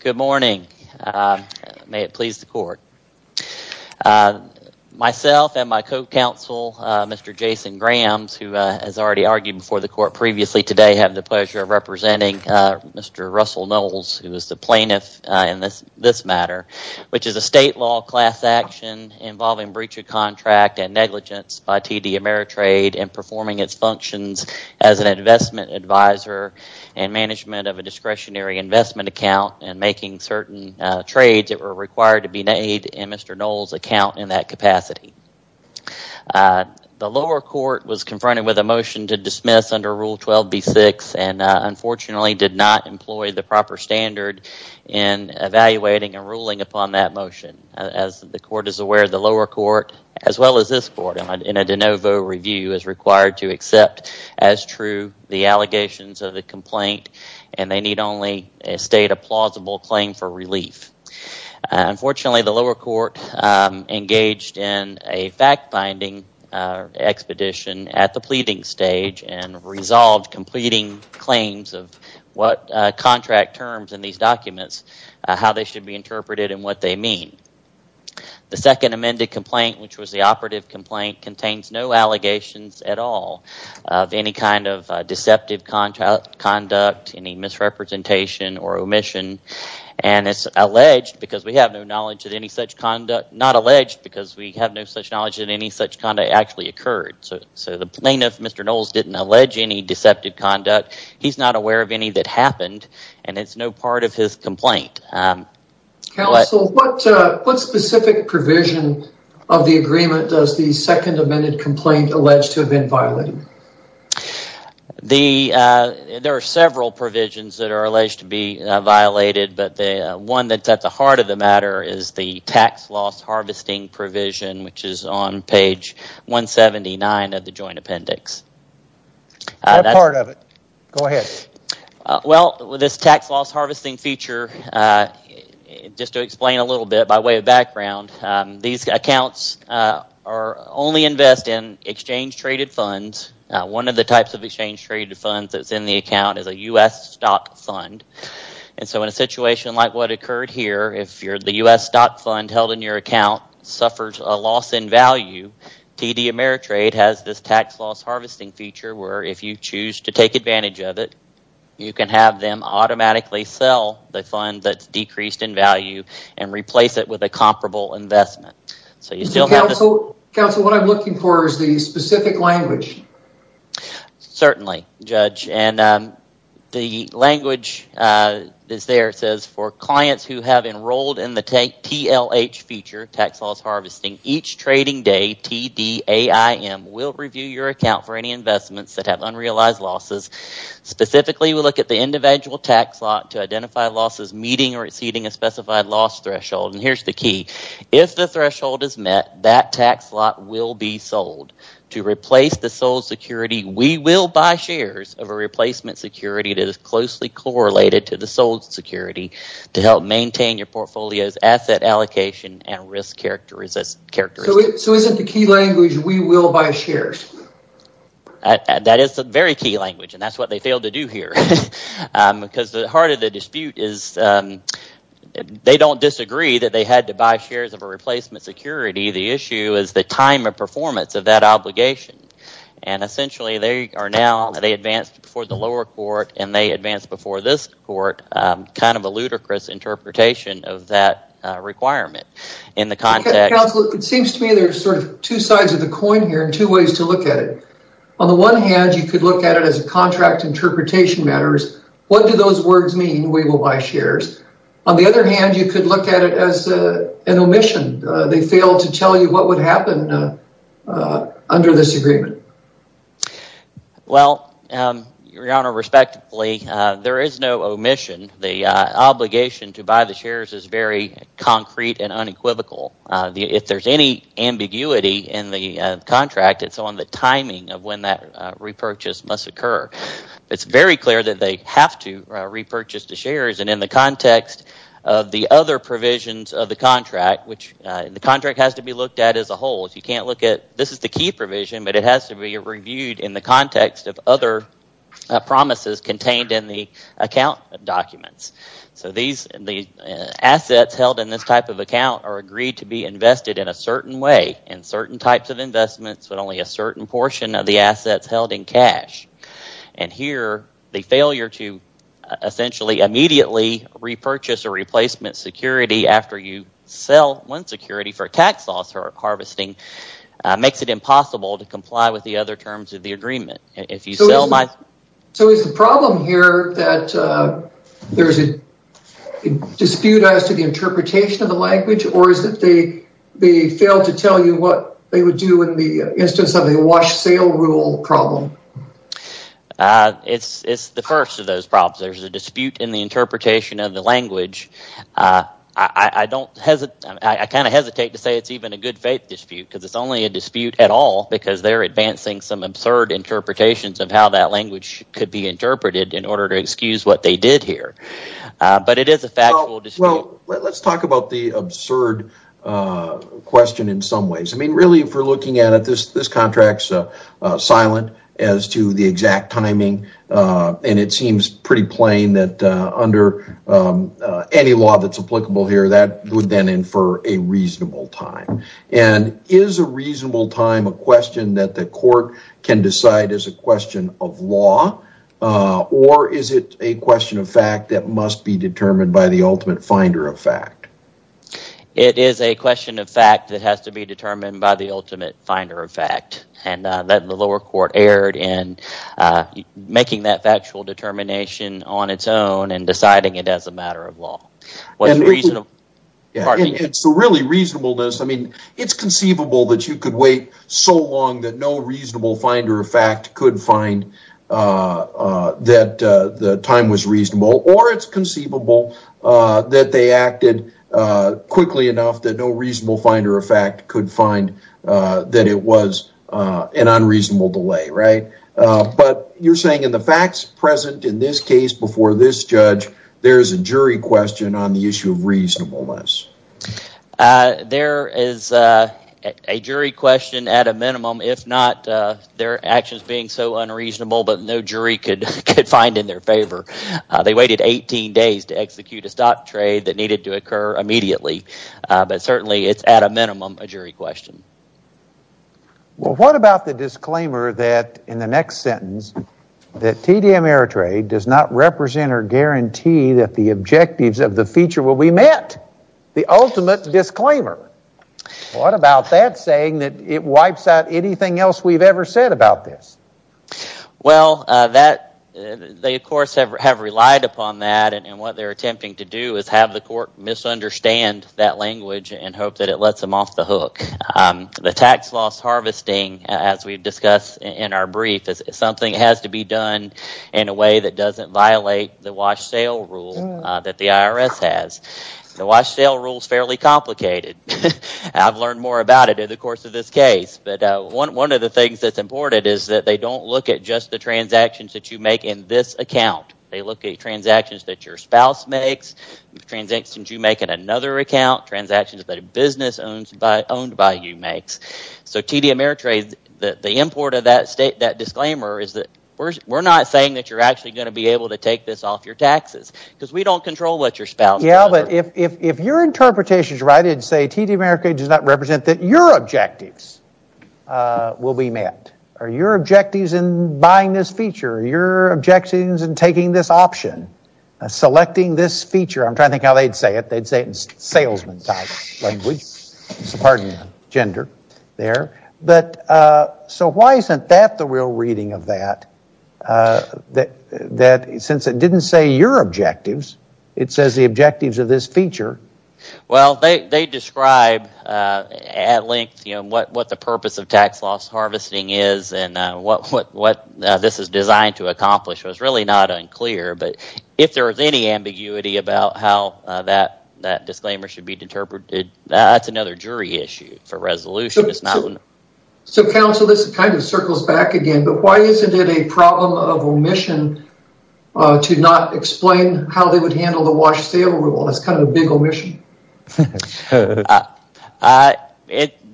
Good morning. May it please the court. Myself and my co-counsel, Mr. Jason Grahams, who has already argued before the court previously today, have the pleasure of representing Mr. Russell Knowles, who is the plaintiff in this matter, which is a state law class action involving breach of contract and negligence by TD Ameritrade in performing its functions as an investment advisor and management of a discretionary investment account and making certain trades that were required to be made in Mr. Knowles' account in that capacity. The lower court was confronted with a motion to dismiss under Rule 12b-6 and unfortunately did not employ the proper standard in evaluating and ruling upon that motion. As the court is aware, the lower court, as well as this court in a de novo review, is required to accept as true the allegations of the complaint and they need only a state of plausible claim for relief. Unfortunately, the lower court engaged in a fact-finding expedition at the pleading stage and resolved completing claims of what contract terms in these documents, how they should be interpreted and what they mean. The second amended complaint, which was the operative complaint, contains no allegations at all of any kind of deceptive conduct, any misrepresentation or omission and it's alleged because we have no such knowledge that any such conduct actually occurred. So the plaintiff, Mr. Knowles, didn't allege any deceptive conduct. He's not aware of any that happened and it's no part of his complaint. Counsel, what specific provision of the agreement does the second amended complaint allege to have been violated? There are several provisions that are alleged to be violated, but one that's at the heart of the matter is the tax loss harvesting provision, which is on page 179 of the joint appendix. That's part of it. Go ahead. Well, this tax loss harvesting feature, just to explain a little bit by way of background, these accounts only invest in exchange-traded funds. One of the types of exchange-traded funds that's in the account is a U.S. stock fund. And so in a situation like what occurred here, if the U.S. stock fund held in your account suffers a loss in value, TD Ameritrade has this tax loss harvesting feature where if you choose to take advantage of it, you can have them automatically sell the fund that's decreased in value and replace it with a comparable investment. Counsel, what I'm looking for is the specific language. Certainly, Judge. And the language that's there says, for clients who have enrolled in the TLH feature, tax loss harvesting, each trading day, TDAIM, will review your account for any investments that have unrealized losses. Specifically, we look at the individual tax lot to identify losses meeting or exceeding a specified loss threshold. And here's the key. If the threshold is met, that tax lot will be sold. To replace the sold security, we will buy shares of a replacement security that is closely correlated to the sold security to help maintain your portfolio's asset allocation and risk characteristics. So is it the key language, we will buy shares? That is the very key language, and that's what they failed to do here. Because the heart of the dispute is, they don't disagree that they had to buy shares of a replacement security. The issue is the time of performance of that obligation. And essentially, they are now, they advanced before the lower court and they advanced before this court. Kind of a ludicrous interpretation of that requirement. In the context... Counsel, it seems to me there's sort of two sides of the coin here and two ways to look at it. On the one hand, you could look at it as a contract interpretation matters. What do those words mean, we will buy shares? On the other hand, you could look at it as an omission. They failed to tell you what would happen under this agreement. Well, Your Honor, respectively, there is no omission. The obligation to buy the shares is very concrete and unequivocal. If there's any ambiguity in the contract, it's on the timing of when that repurchase must occur. It's very clear that they have to repurchase the shares, and in the context of the other provisions of the contract, which the contract has to be looked at as a whole. If you can't look at... This is the key provision, but it has to be reviewed in the context of other promises contained in the account documents. So the assets held in this type of account are agreed to be invested in a certain way, in certain types of investments, but only a certain portion of the assets held in cash. And here, the failure to essentially immediately repurchase or replacement security after you sell one security for a tax loss for harvesting makes it impossible to comply with the other terms of the agreement. So is the problem here that there's a dispute as to the interpretation of the language, or is it they failed to tell you what they would do in the instance of the wash sale rule problem? It's the first of those problems. There's a dispute in the interpretation of the language. I kind of hesitate to say it's even a good faith dispute, because it's only a dispute at all, because they're advancing some absurd interpretations of how that language could be interpreted in order to excuse what they did here. But it is a factual dispute. Well, let's talk about the absurd question in some ways. I mean, really, if we're looking at it, this contract's silent as to the exact timing, and it seems pretty plain that under any law that's applicable here, that would then infer a reasonable time. And is a reasonable time a question that the court can decide is a question of law, or is it a question of fact that must be determined by the ultimate finder of fact? It is a question of fact that has to be determined by the ultimate finder of fact. And the lower court erred in making that factual determination on its own and deciding it as a matter of law. It's really reasonableness. I mean, it's conceivable that you could wait so long that no reasonable finder of fact could find that the time was reasonable, or it's conceivable that they acted quickly enough that no reasonable finder of fact could find that it was an unreasonable delay, right? But you're saying in the facts present in this case before this judge, there's a jury question on the issue of reasonableness. There is a jury question at a minimum, if not their actions being so unreasonable, but no jury could find in their favor. They waited 18 days to execute a stock trade that needed to occur immediately. But certainly, it's at a minimum a jury question. Well, what about the disclaimer that, in the next sentence, that TD Ameritrade does not represent or guarantee that the objectives of the feature will be met? The ultimate disclaimer. What about that saying that it wipes out anything else we've ever said about this? Well, they, of course, have relied upon that, and what they're attempting to do is have the court misunderstand that language and hope that it lets them off the hook. The tax loss harvesting, as we've discussed in our brief, is something that has to be done in a way that doesn't violate the wash sale rule that the IRS has. The wash sale rule's fairly complicated. I've learned more about it in the course of this case. But one of the things that's important is that they don't look at just the transactions that you make in this account. They look at transactions that your spouse makes, transactions you make in another account, transactions that a business owned by you makes. So TD Ameritrade, the import of that state, that disclaimer, is that we're not saying that you're actually going to be able to take this off your taxes, because we don't control what your spouse does. Yeah, but if your interpretation's right and say TD Ameritrade does not represent that your objectives will be met, are your objectives in buying this feature, are your objectives in taking this option, selecting this feature? I'm trying to think how they'd say it. They'd say it in salesman-type language. Pardon the gender there. So why isn't that the real reading of that? Since it didn't say your objectives, it says the objectives of this feature. Well, they describe at length what the purpose of tax loss harvesting is and what this is designed to accomplish. It was really not unclear, but if there was any ambiguity about how that disclaimer should be interpreted, that's another jury issue for resolution. So, counsel, this kind of circles back again, but why isn't it a problem of omission to not explain how they would handle the wash sale rule? That's kind of a big omission.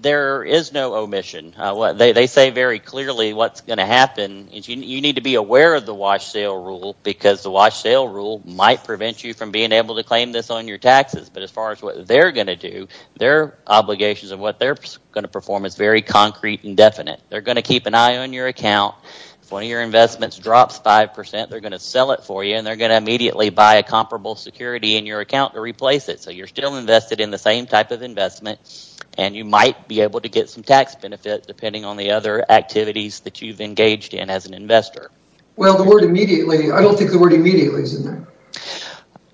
There is no omission. They say very clearly what's going to happen is you need to be aware of the wash sale rule, because the wash sale rule might prevent you from being able to claim this on your taxes, but as far as what they're going to do, their obligations of what they're going to perform is very concrete and definite. They're going to keep an eye on your account. If one of your investments drops 5%, they're going to sell it for you, and they're going to immediately buy a comparable security in your account to replace it. So you're still invested in the same type of investment, and you might be able to get some tax benefit depending on the other activities that you've engaged in as an investor. Well, the word immediately, I don't think the word immediately is in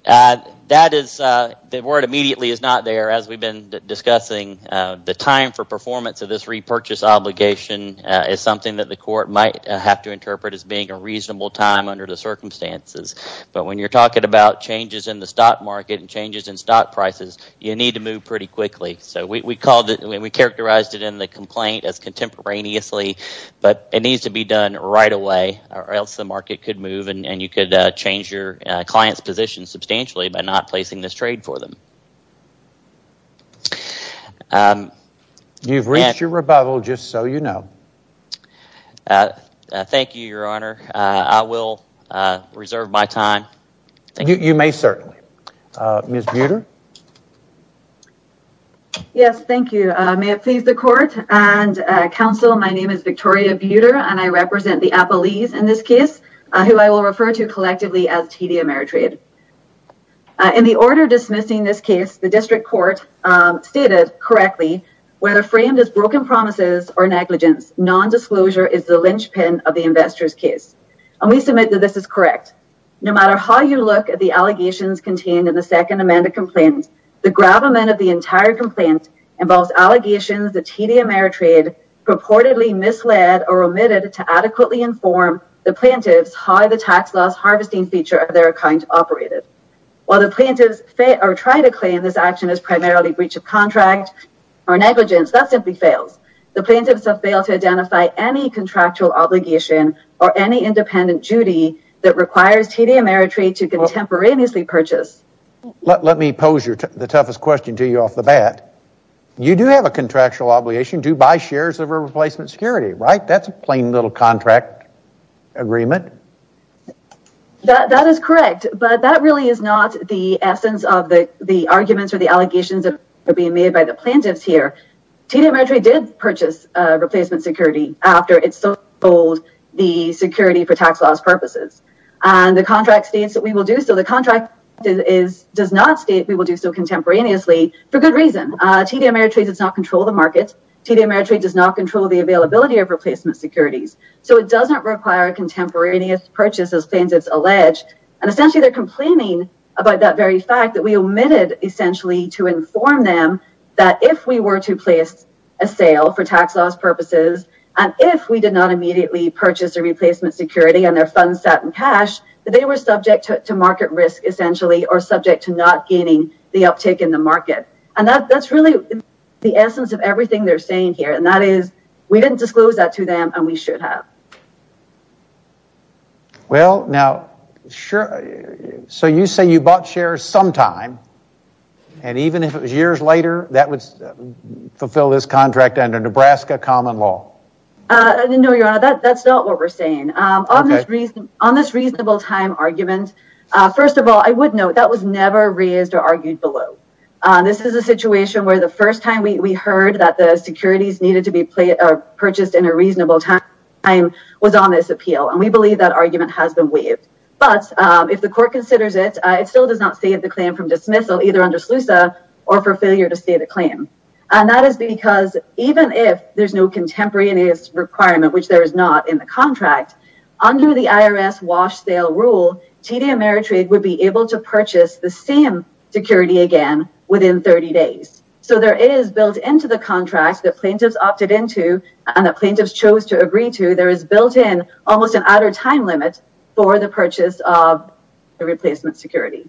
there. That is, the word immediately is not there, as we've been discussing. The time for performance of this repurchase obligation is something that the court might have to interpret as being a reasonable time under the circumstances, but when you're talking about changes in the stock market and changes in stock prices, you need to move pretty quickly. So we characterized it in the complaint as contemporaneously, but it needs to be done right away or else the market could move, and you could change your client's position substantially by not placing this trade for them. You've reached your rebuttal, just so you know. Thank you, Your Honor. I will reserve my time. You may certainly. Ms. Buter? Yes, thank you. May it please the court and counsel, my name is Victoria Buter, and I represent the Appalese in this case, who I will refer to collectively as TD Ameritrade. In the order dismissing this case, the district court stated correctly, whether framed as broken promises or negligence, nondisclosure is the linchpin of the investor's case, and we submit that this is correct. No matter how you look at the allegations contained in the second amended complaint, the gravamen of the entire complaint involves allegations that TD Ameritrade purportedly misled or omitted to adequately inform the plaintiffs how the tax loss harvesting feature of their account operated. While the plaintiffs try to claim this action is primarily breach of contract or negligence, that simply fails. The plaintiffs have failed to identify any contractual obligation or any independent duty that requires TD Ameritrade to contemporaneously purchase. Let me pose the toughest question to you off the bat. You do have a contractual obligation to buy shares of a replacement security, right? That's a plain little contract agreement. That is correct, but that really is not the essence of the arguments or the allegations that are being made by the plaintiffs here. TD Ameritrade did purchase replacement security after it sold the security for tax loss purposes. And the contract states that we will do so. The contract does not state we will do so contemporaneously for good reason. TD Ameritrade does not control the market. TD Ameritrade does not control the availability of replacement securities. So it doesn't require a contemporaneous purchase, as plaintiffs allege. And essentially they're complaining about that very fact that we omitted, essentially, to inform them that if we were to place a sale for tax loss purposes, and if we did not immediately purchase a replacement security and their funds sat in cash, that they were subject to market risk, essentially, or subject to not gaining the uptake in the market. And that's really the essence of everything they're saying here. And that is we didn't disclose that to them, and we should have. Well, now, so you say you bought shares sometime, and even if it was years later, that would fulfill this contract under Nebraska common law. No, Your Honor, that's not what we're saying. On this reasonable time argument, first of all, I would note that was never raised or argued below. This is a situation where the first time we heard that the securities needed to be purchased in a reasonable time was on this appeal. And we believe that argument has been waived. But if the court considers it, it still does not save the claim from dismissal, either under SLUSA or for failure to state a claim. And that is because even if there's no contemporaneous requirement, which there is not in the contract, under the IRS wash sale rule, TD Ameritrade would be able to purchase the same security again within 30 days. So there is built into the contract that plaintiffs opted into and that plaintiffs chose to agree to, there is built in almost an outer time limit for the purchase of the replacement security.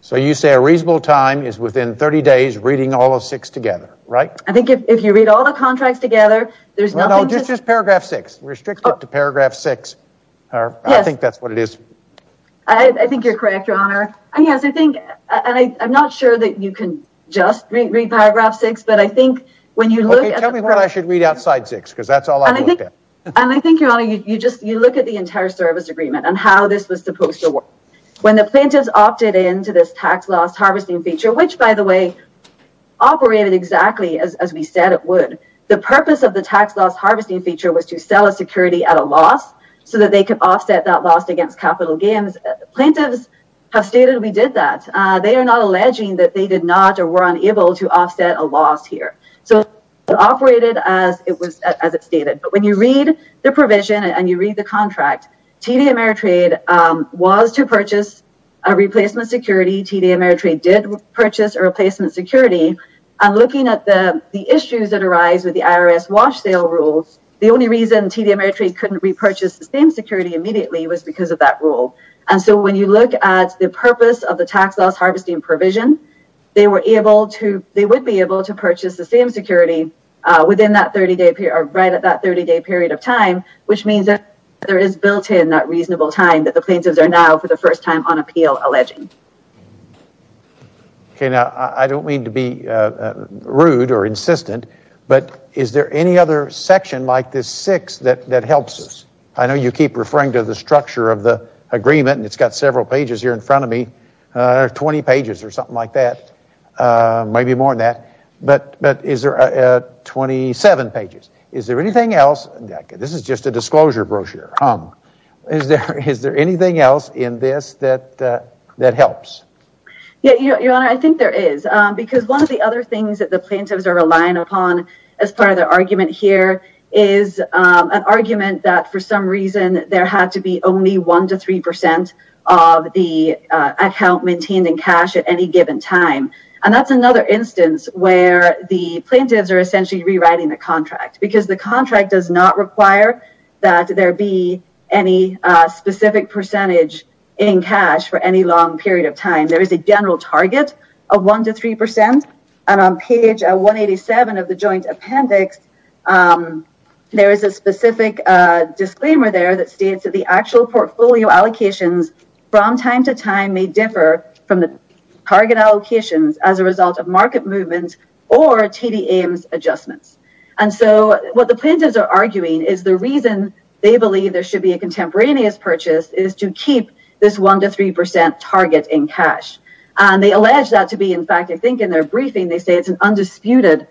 So you say a reasonable time is within 30 days reading all of six together, right? I think if you read all the contracts together, there's nothing to... No, no, just paragraph six. Restrict it to paragraph six. I think that's what it is. I think you're correct, Your Honor. I'm not sure that you can just read paragraph six, but I think when you look... Okay, tell me what I should read outside six, because that's all I looked at. And I think, Your Honor, you look at the entire service agreement and how this was supposed to work. When the plaintiffs opted into this tax loss harvesting feature, which, by the way, operated exactly as we said it would, the purpose of the tax loss harvesting feature was to sell a security at a loss so that they could offset that loss against capital gains. Plaintiffs have stated we did that. They are not alleging that they did not or were unable to offset a loss here. So it operated as it stated. But when you read the provision and you read the contract, TD Ameritrade was to purchase a replacement security. TD Ameritrade did purchase a replacement security. And looking at the issues that arise with the IRS wash sale rules, the only reason TD Ameritrade couldn't repurchase the same security immediately was because of that rule. And so when you look at the purpose of the tax loss harvesting provision, they would be able to purchase the same security right at that 30-day period of time, which means that there is built in that reasonable time that the plaintiffs are now for the first time on appeal alleging. Okay. Now, I don't mean to be rude or insistent, but is there any other section like this six that helps us? I know you keep referring to the structure of the agreement, and it's got several pages here in front of me, 20 pages or something like that, maybe more than that. But is there 27 pages? Is there anything else? This is just a disclosure brochure. Is there anything else in this that helps? Your Honor, I think there is. Because one of the other things that the plaintiffs are relying upon as part of their argument here is an argument that for some reason there had to be only 1 to 3 percent of the account maintained in cash at any given time. And that's another instance where the plaintiffs are essentially rewriting the contract because the contract does not require that there be any specific percentage in cash for any long period of time. There is a general target of 1 to 3 percent. And on page 187 of the joint appendix, there is a specific disclaimer there that states that the actual portfolio allocations from time to time may differ from the target allocations as a result of market movements or TD Ames adjustments. And so what the plaintiffs are arguing is the reason they believe there should be a contemporaneous purchase is to keep this 1 to 3 percent target in cash. And they allege that to be, in fact, I think in their briefing they say it's an undisputed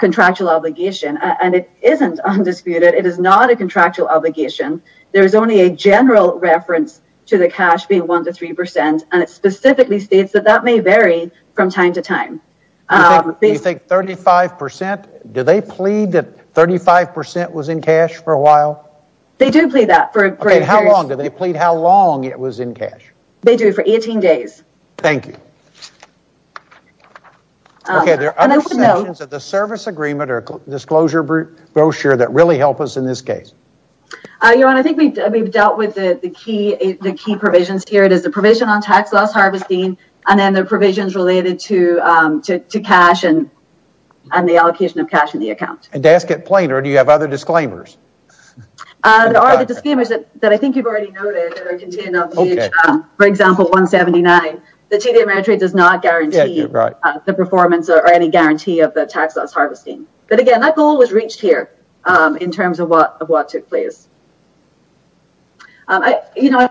contractual obligation. And it isn't undisputed. It is not a contractual obligation. There is only a general reference to the cash being 1 to 3 percent. And it specifically states that that may vary from time to time. You think 35 percent? Do they plead that 35 percent was in cash for a while? They do plead that for a great period. How long? Do they plead how long it was in cash? They do, for 18 days. Thank you. Okay, there are other sections of the service agreement or disclosure brochure that really help us in this case. Your Honor, I think we've dealt with the key provisions here. It is the provision on tax loss harvesting and then the provisions related to cash and the allocation of cash in the account. And to ask it plain, do you have other disclaimers? There are other disclaimers that I think you've already noted that are contained on page, for example, 179. The TD Ameritrade does not guarantee the performance or any guarantee of the tax loss harvesting. But, again, that goal was reached here in terms of what took place. I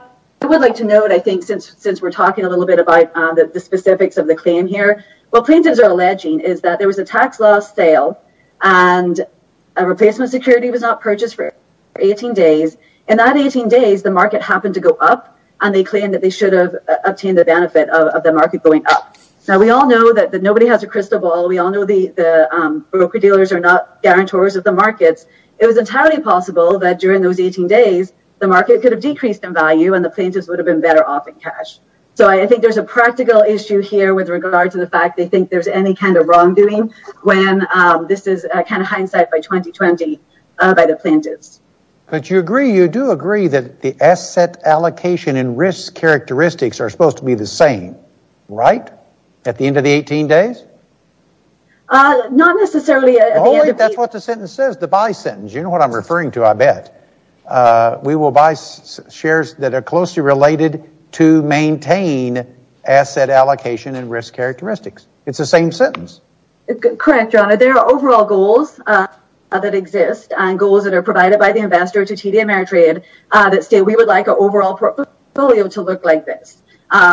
would like to note, I think, since we're talking a little bit about the specifics of the claim here, what plaintiffs are alleging is that there was a tax loss sale and a replacement security was not purchased for 18 days. In that 18 days, the market happened to go up, and they claim that they should have obtained the benefit of the market going up. Now, we all know that nobody has a crystal ball. We all know the broker-dealers are not guarantors of the markets. It was entirely possible that during those 18 days, the market could have decreased in value and the plaintiffs would have been better off in cash. So I think there's a practical issue here with regard to the fact they think there's any kind of wrongdoing when this is kind of hindsight by 2020 by the plaintiffs. But you agree, you do agree, that the asset allocation and risk characteristics are supposed to be the same, right? At the end of the 18 days? Not necessarily. Only if that's what the sentence says, the buy sentence. You know what I'm referring to, I bet. We will buy shares that are closely related to maintain asset allocation and risk characteristics. It's the same sentence. Correct, John. There are overall goals that exist and goals that are provided by the investor to TD Ameritrade that say we would like our overall portfolio to look like this.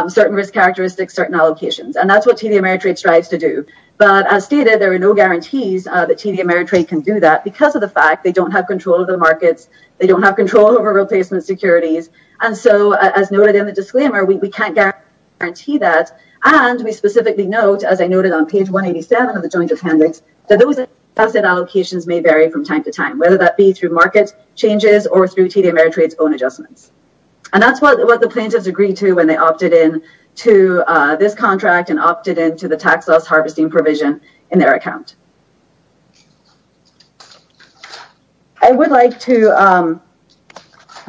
Certain risk characteristics, certain allocations. And that's what TD Ameritrade strives to do. But as stated, there are no guarantees that TD Ameritrade can do that because of the fact they don't have control of the markets. They don't have control over replacement securities. And so as noted in the disclaimer, we can't guarantee that. And we specifically note, as I noted on page 187 of the joint appendix, that those asset allocations may vary from time to time, whether that be through market changes or through TD Ameritrade's own adjustments. And that's what the plaintiffs agreed to when they opted in to this contract and opted in to the tax loss harvesting provision in their account. I would like to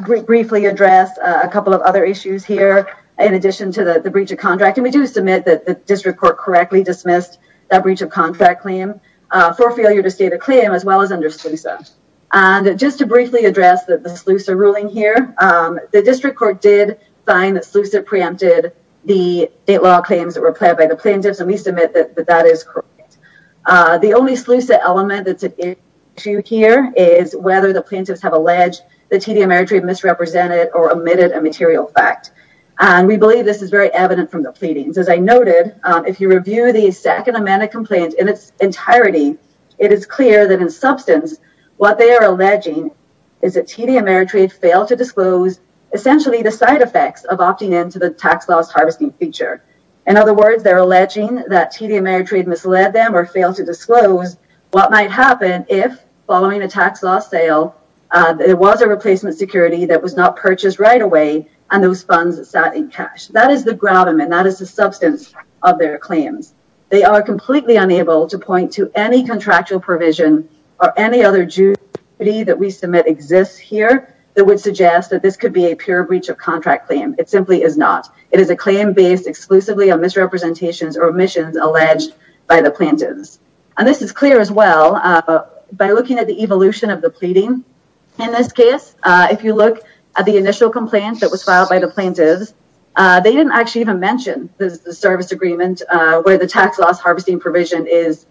briefly address a couple of other issues here in addition to the breach of contract. And we do submit that the district court correctly dismissed that breach of contract claim for failure to state a claim as well as under SLUSA. And just to briefly address the SLUSA ruling here, the district court did find that SLUSA preempted the state law claims that were pled by the plaintiffs. And we submit that that is correct. The only SLUSA element that's an issue here is whether the plaintiffs have alleged that TD Ameritrade misrepresented or omitted a material fact. And we believe this is very evident from the pleadings. As I noted, if you review the second amended complaint in its entirety, it is clear that in substance what they are alleging is that TD Ameritrade failed to disclose essentially the side effects of opting in to the tax loss harvesting feature. In other words, they're alleging that TD Ameritrade misled them or failed to disclose what might happen if, following a tax loss sale, there was a replacement security that was not purchased right away and those funds sat in cash. That is the ground and that is the substance of their claims. They are completely unable to point to any contractual provision or any other duty that we submit exists here that would suggest that this could be a pure breach of contract claim. It simply is not. It is a claim based exclusively on misrepresentations or omissions alleged by the plaintiffs. And this is clear as well by looking at the evolution of the pleading in this case. If you look at the initial complaint that was filed by the plaintiffs, they didn't actually even mention the service agreement where the tax loss harvesting provision is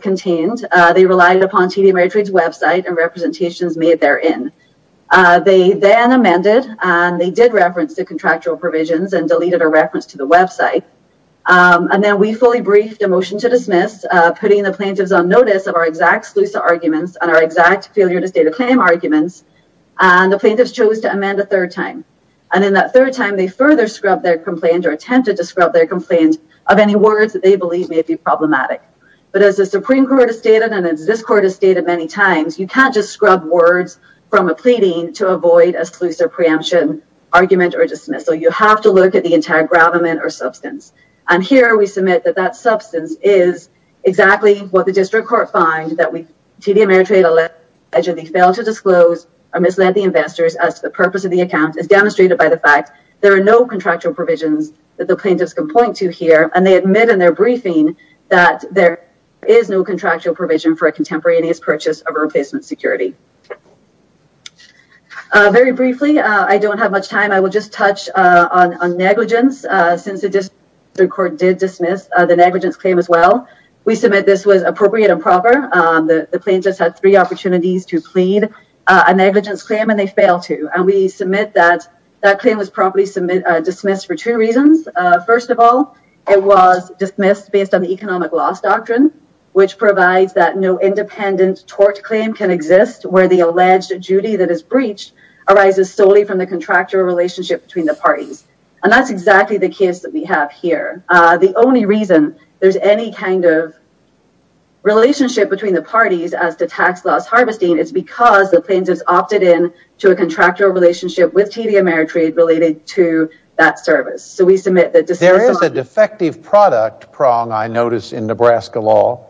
contained. They relied upon TD Ameritrade's website and representations made therein. They then amended and they did reference the contractual provisions and deleted a reference to the website. And then we fully briefed a motion to dismiss, putting the plaintiffs on notice of our exact sluicer arguments and our exact failure to state a claim arguments. And the plaintiffs chose to amend a third time. And in that third time, they further scrubbed their complaint or attempted to scrub their complaint of any words that they believe may be problematic. But as the Supreme Court has stated and as this court has stated many times, you can't just scrub words from a pleading to avoid a sluicer preemption argument or dismissal. You have to look at the entire gravamen or substance. And here we submit that that substance is exactly what the district court finds that TD Ameritrade allegedly failed to disclose or misled the investors as to the purpose of the account, as demonstrated by the fact there are no contractual provisions that the plaintiffs can point to here. And they admit in their briefing that there is no contractual provision for a contemporaneous purchase of replacement security. Very briefly, I don't have much time. I will just touch on negligence since the district court did dismiss the negligence claim as well. We submit this was appropriate and proper. The plaintiffs had three opportunities to plead a negligence claim and they failed to. And we submit that that claim was promptly dismissed for two reasons. First of all, it was dismissed based on the economic loss doctrine, which provides that no independent tort claim can exist where the alleged duty that is breached arises solely from the contractual relationship between the parties. And that's exactly the case that we have here. The only reason there's any kind of relationship between the parties as to tax loss harvesting is because the plaintiffs opted in to a contractual relationship with TD Ameritrade related to that service. There is a defective product prong, I notice, in Nebraska law.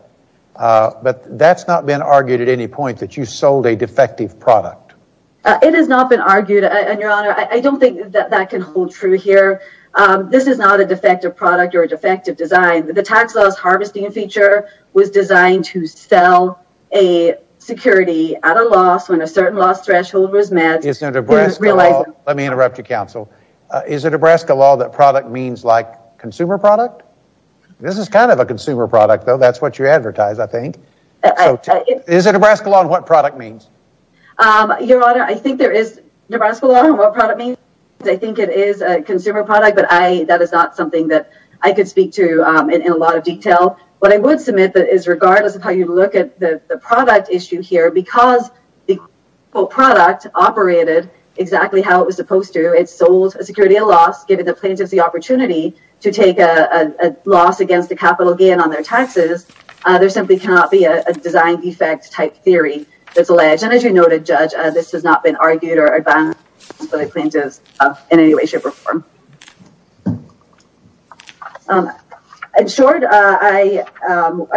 But that's not been argued at any point that you sold a defective product. It has not been argued, Your Honor. I don't think that that can hold true here. This is not a defective product or a defective design. The tax loss harvesting feature was designed to sell a security at a loss when a certain loss threshold was met. Let me interrupt you, Counsel. Is it Nebraska law that product means like consumer product? This is kind of a consumer product, though. That's what you advertise, I think. Is it Nebraska law on what product means? Your Honor, I think there is Nebraska law on what product means. I think it is a consumer product, but that is not something that I could speak to in a lot of detail. What I would submit is regardless of how you look at the product issue here, because the quote product operated exactly how it was supposed to, it sold a security at a loss, giving the plaintiffs the opportunity to take a loss against a capital gain on their taxes. There simply cannot be a design defect type theory that's alleged. And as you noted, Judge, this has not been argued or advanced by the plaintiffs in any way, shape, or form. In short, I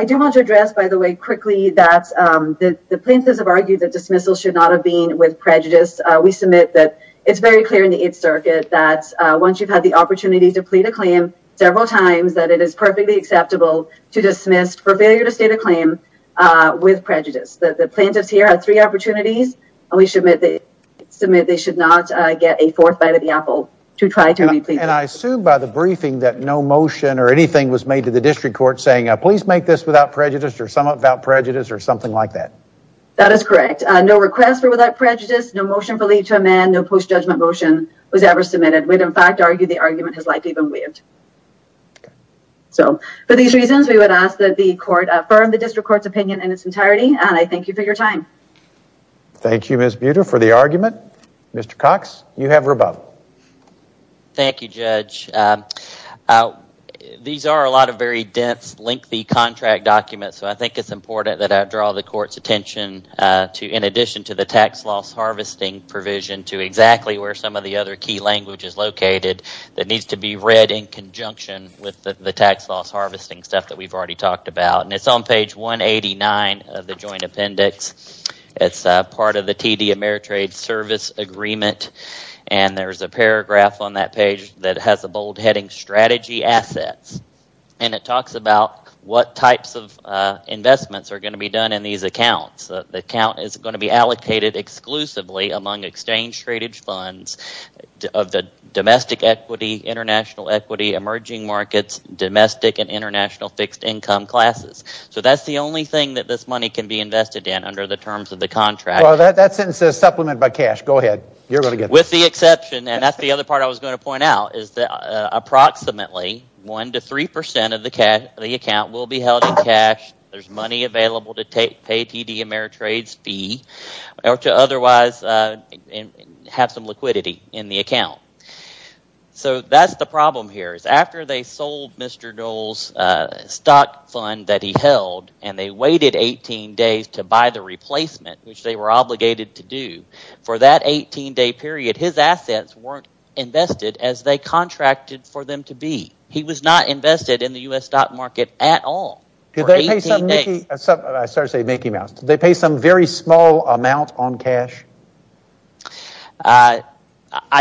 do want to address, by the way, quickly that the plaintiffs have argued that dismissal should not have been with prejudice. We submit that it's very clear in the Eighth Circuit that once you've had the opportunity to plead a claim several times, that it is perfectly acceptable to dismiss for failure to state a claim with prejudice. The plaintiffs here had three opportunities, and we submit they should not get a fourth bite of the apple to try to plead. And I assume by the briefing that no motion or anything was made to the district court saying, please make this without prejudice or sum up without prejudice or something like that. That is correct. No request for without prejudice, no motion for leave to amend, no post-judgment motion was ever submitted. We would, in fact, argue the argument has likely been waived. So for these reasons, we would ask that the court affirm the district court's opinion in its entirety. And I thank you for your time. Thank you, Ms. Buter, for the argument. Mr. Cox, you have rebuttal. Thank you, Judge. These are a lot of very dense, lengthy contract documents. So I think it's important that I draw the court's attention to, in addition to the tax loss harvesting provision, to exactly where some of the other key language is located that needs to be read in conjunction with the tax loss harvesting stuff that we've already talked about. And it's on page 189 of the joint appendix. It's part of the TD Ameritrade Service Agreement. And there's a paragraph on that page that has a bold heading, Strategy Assets. And it talks about what types of investments are going to be done in these accounts. The account is going to be allocated exclusively among exchange-traded funds of the domestic equity, international equity, emerging markets, domestic and international fixed income classes. So that's the only thing that this money can be invested in under the terms of the contract. Well, that sentence says supplement by cash. Go ahead. You're going to get this. With the exception, and that's the other part I was going to point out, is that approximately 1 to 3 percent of the account will be held in cash. There's money available to pay TD Ameritrade's fee or to otherwise have some liquidity in the account. So that's the problem here is after they sold Mr. Dole's stock fund that he held, and they waited 18 days to buy the replacement, which they were obligated to do. For that 18-day period, his assets weren't invested as they contracted for them to be. He was not invested in the U.S. stock market at all for 18 days. Did they pay some very small amount on cash? I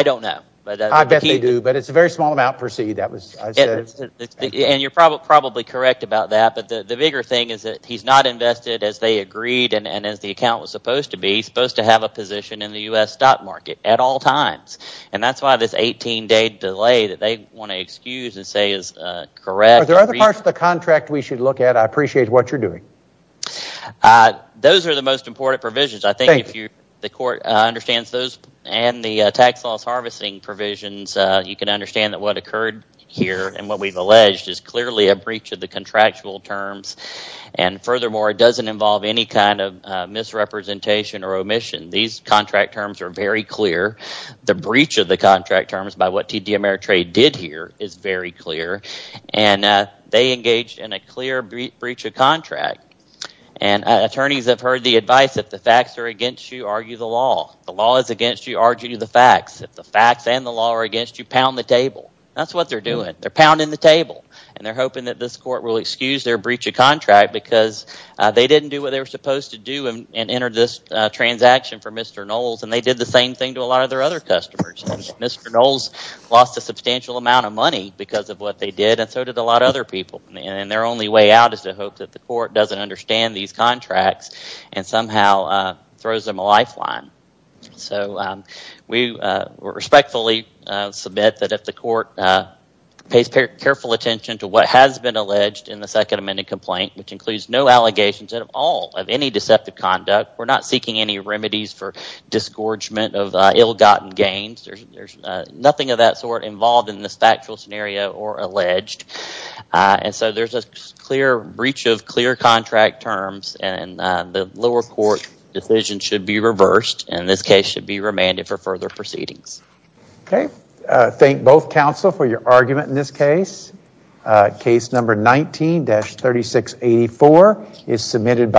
don't know. I bet they do, but it's a very small amount per C. And you're probably correct about that. But the bigger thing is that he's not invested as they agreed and as the account was supposed to be. He's supposed to have a position in the U.S. stock market at all times. And that's why this 18-day delay that they want to excuse and say is correct. Are there other parts of the contract we should look at? I appreciate what you're doing. Those are the most important provisions. I think if the court understands those and the tax loss harvesting provisions, you can understand that what occurred here and what we've alleged is clearly a breach of the contractual terms. And furthermore, it doesn't involve any kind of misrepresentation or omission. These contract terms are very clear. The breach of the contract terms by what TD Ameritrade did here is very clear. And they engaged in a clear breach of contract. And attorneys have heard the advice, if the facts are against you, argue the law. If the law is against you, argue the facts. If the facts and the law are against you, pound the table. That's what they're doing. They're pounding the table. And they're hoping that this court will excuse their breach of contract because they didn't do what they were supposed to do and enter this transaction for Mr. Knowles. And they did the same thing to a lot of their other customers. Mr. Knowles lost a substantial amount of money because of what they did. And so did a lot of other people. And their only way out is to hope that the court doesn't understand these contracts and somehow throws them a lifeline. So we respectfully submit that if the court pays careful attention to what has been alleged in the Second Amendment complaint, which includes no allegations at all of any deceptive conduct, we're not seeking any remedies for disgorgement of ill-gotten gains. There's nothing of that sort involved in this factual scenario or alleged. And so there's a clear breach of clear contract terms. And the lower court decision should be reversed. And this case should be remanded for further proceedings. Okay. Thank both counsel for your argument in this case. Case number 19-3684 is submitted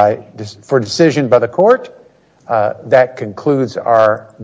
for decision by the court. That concludes our debate.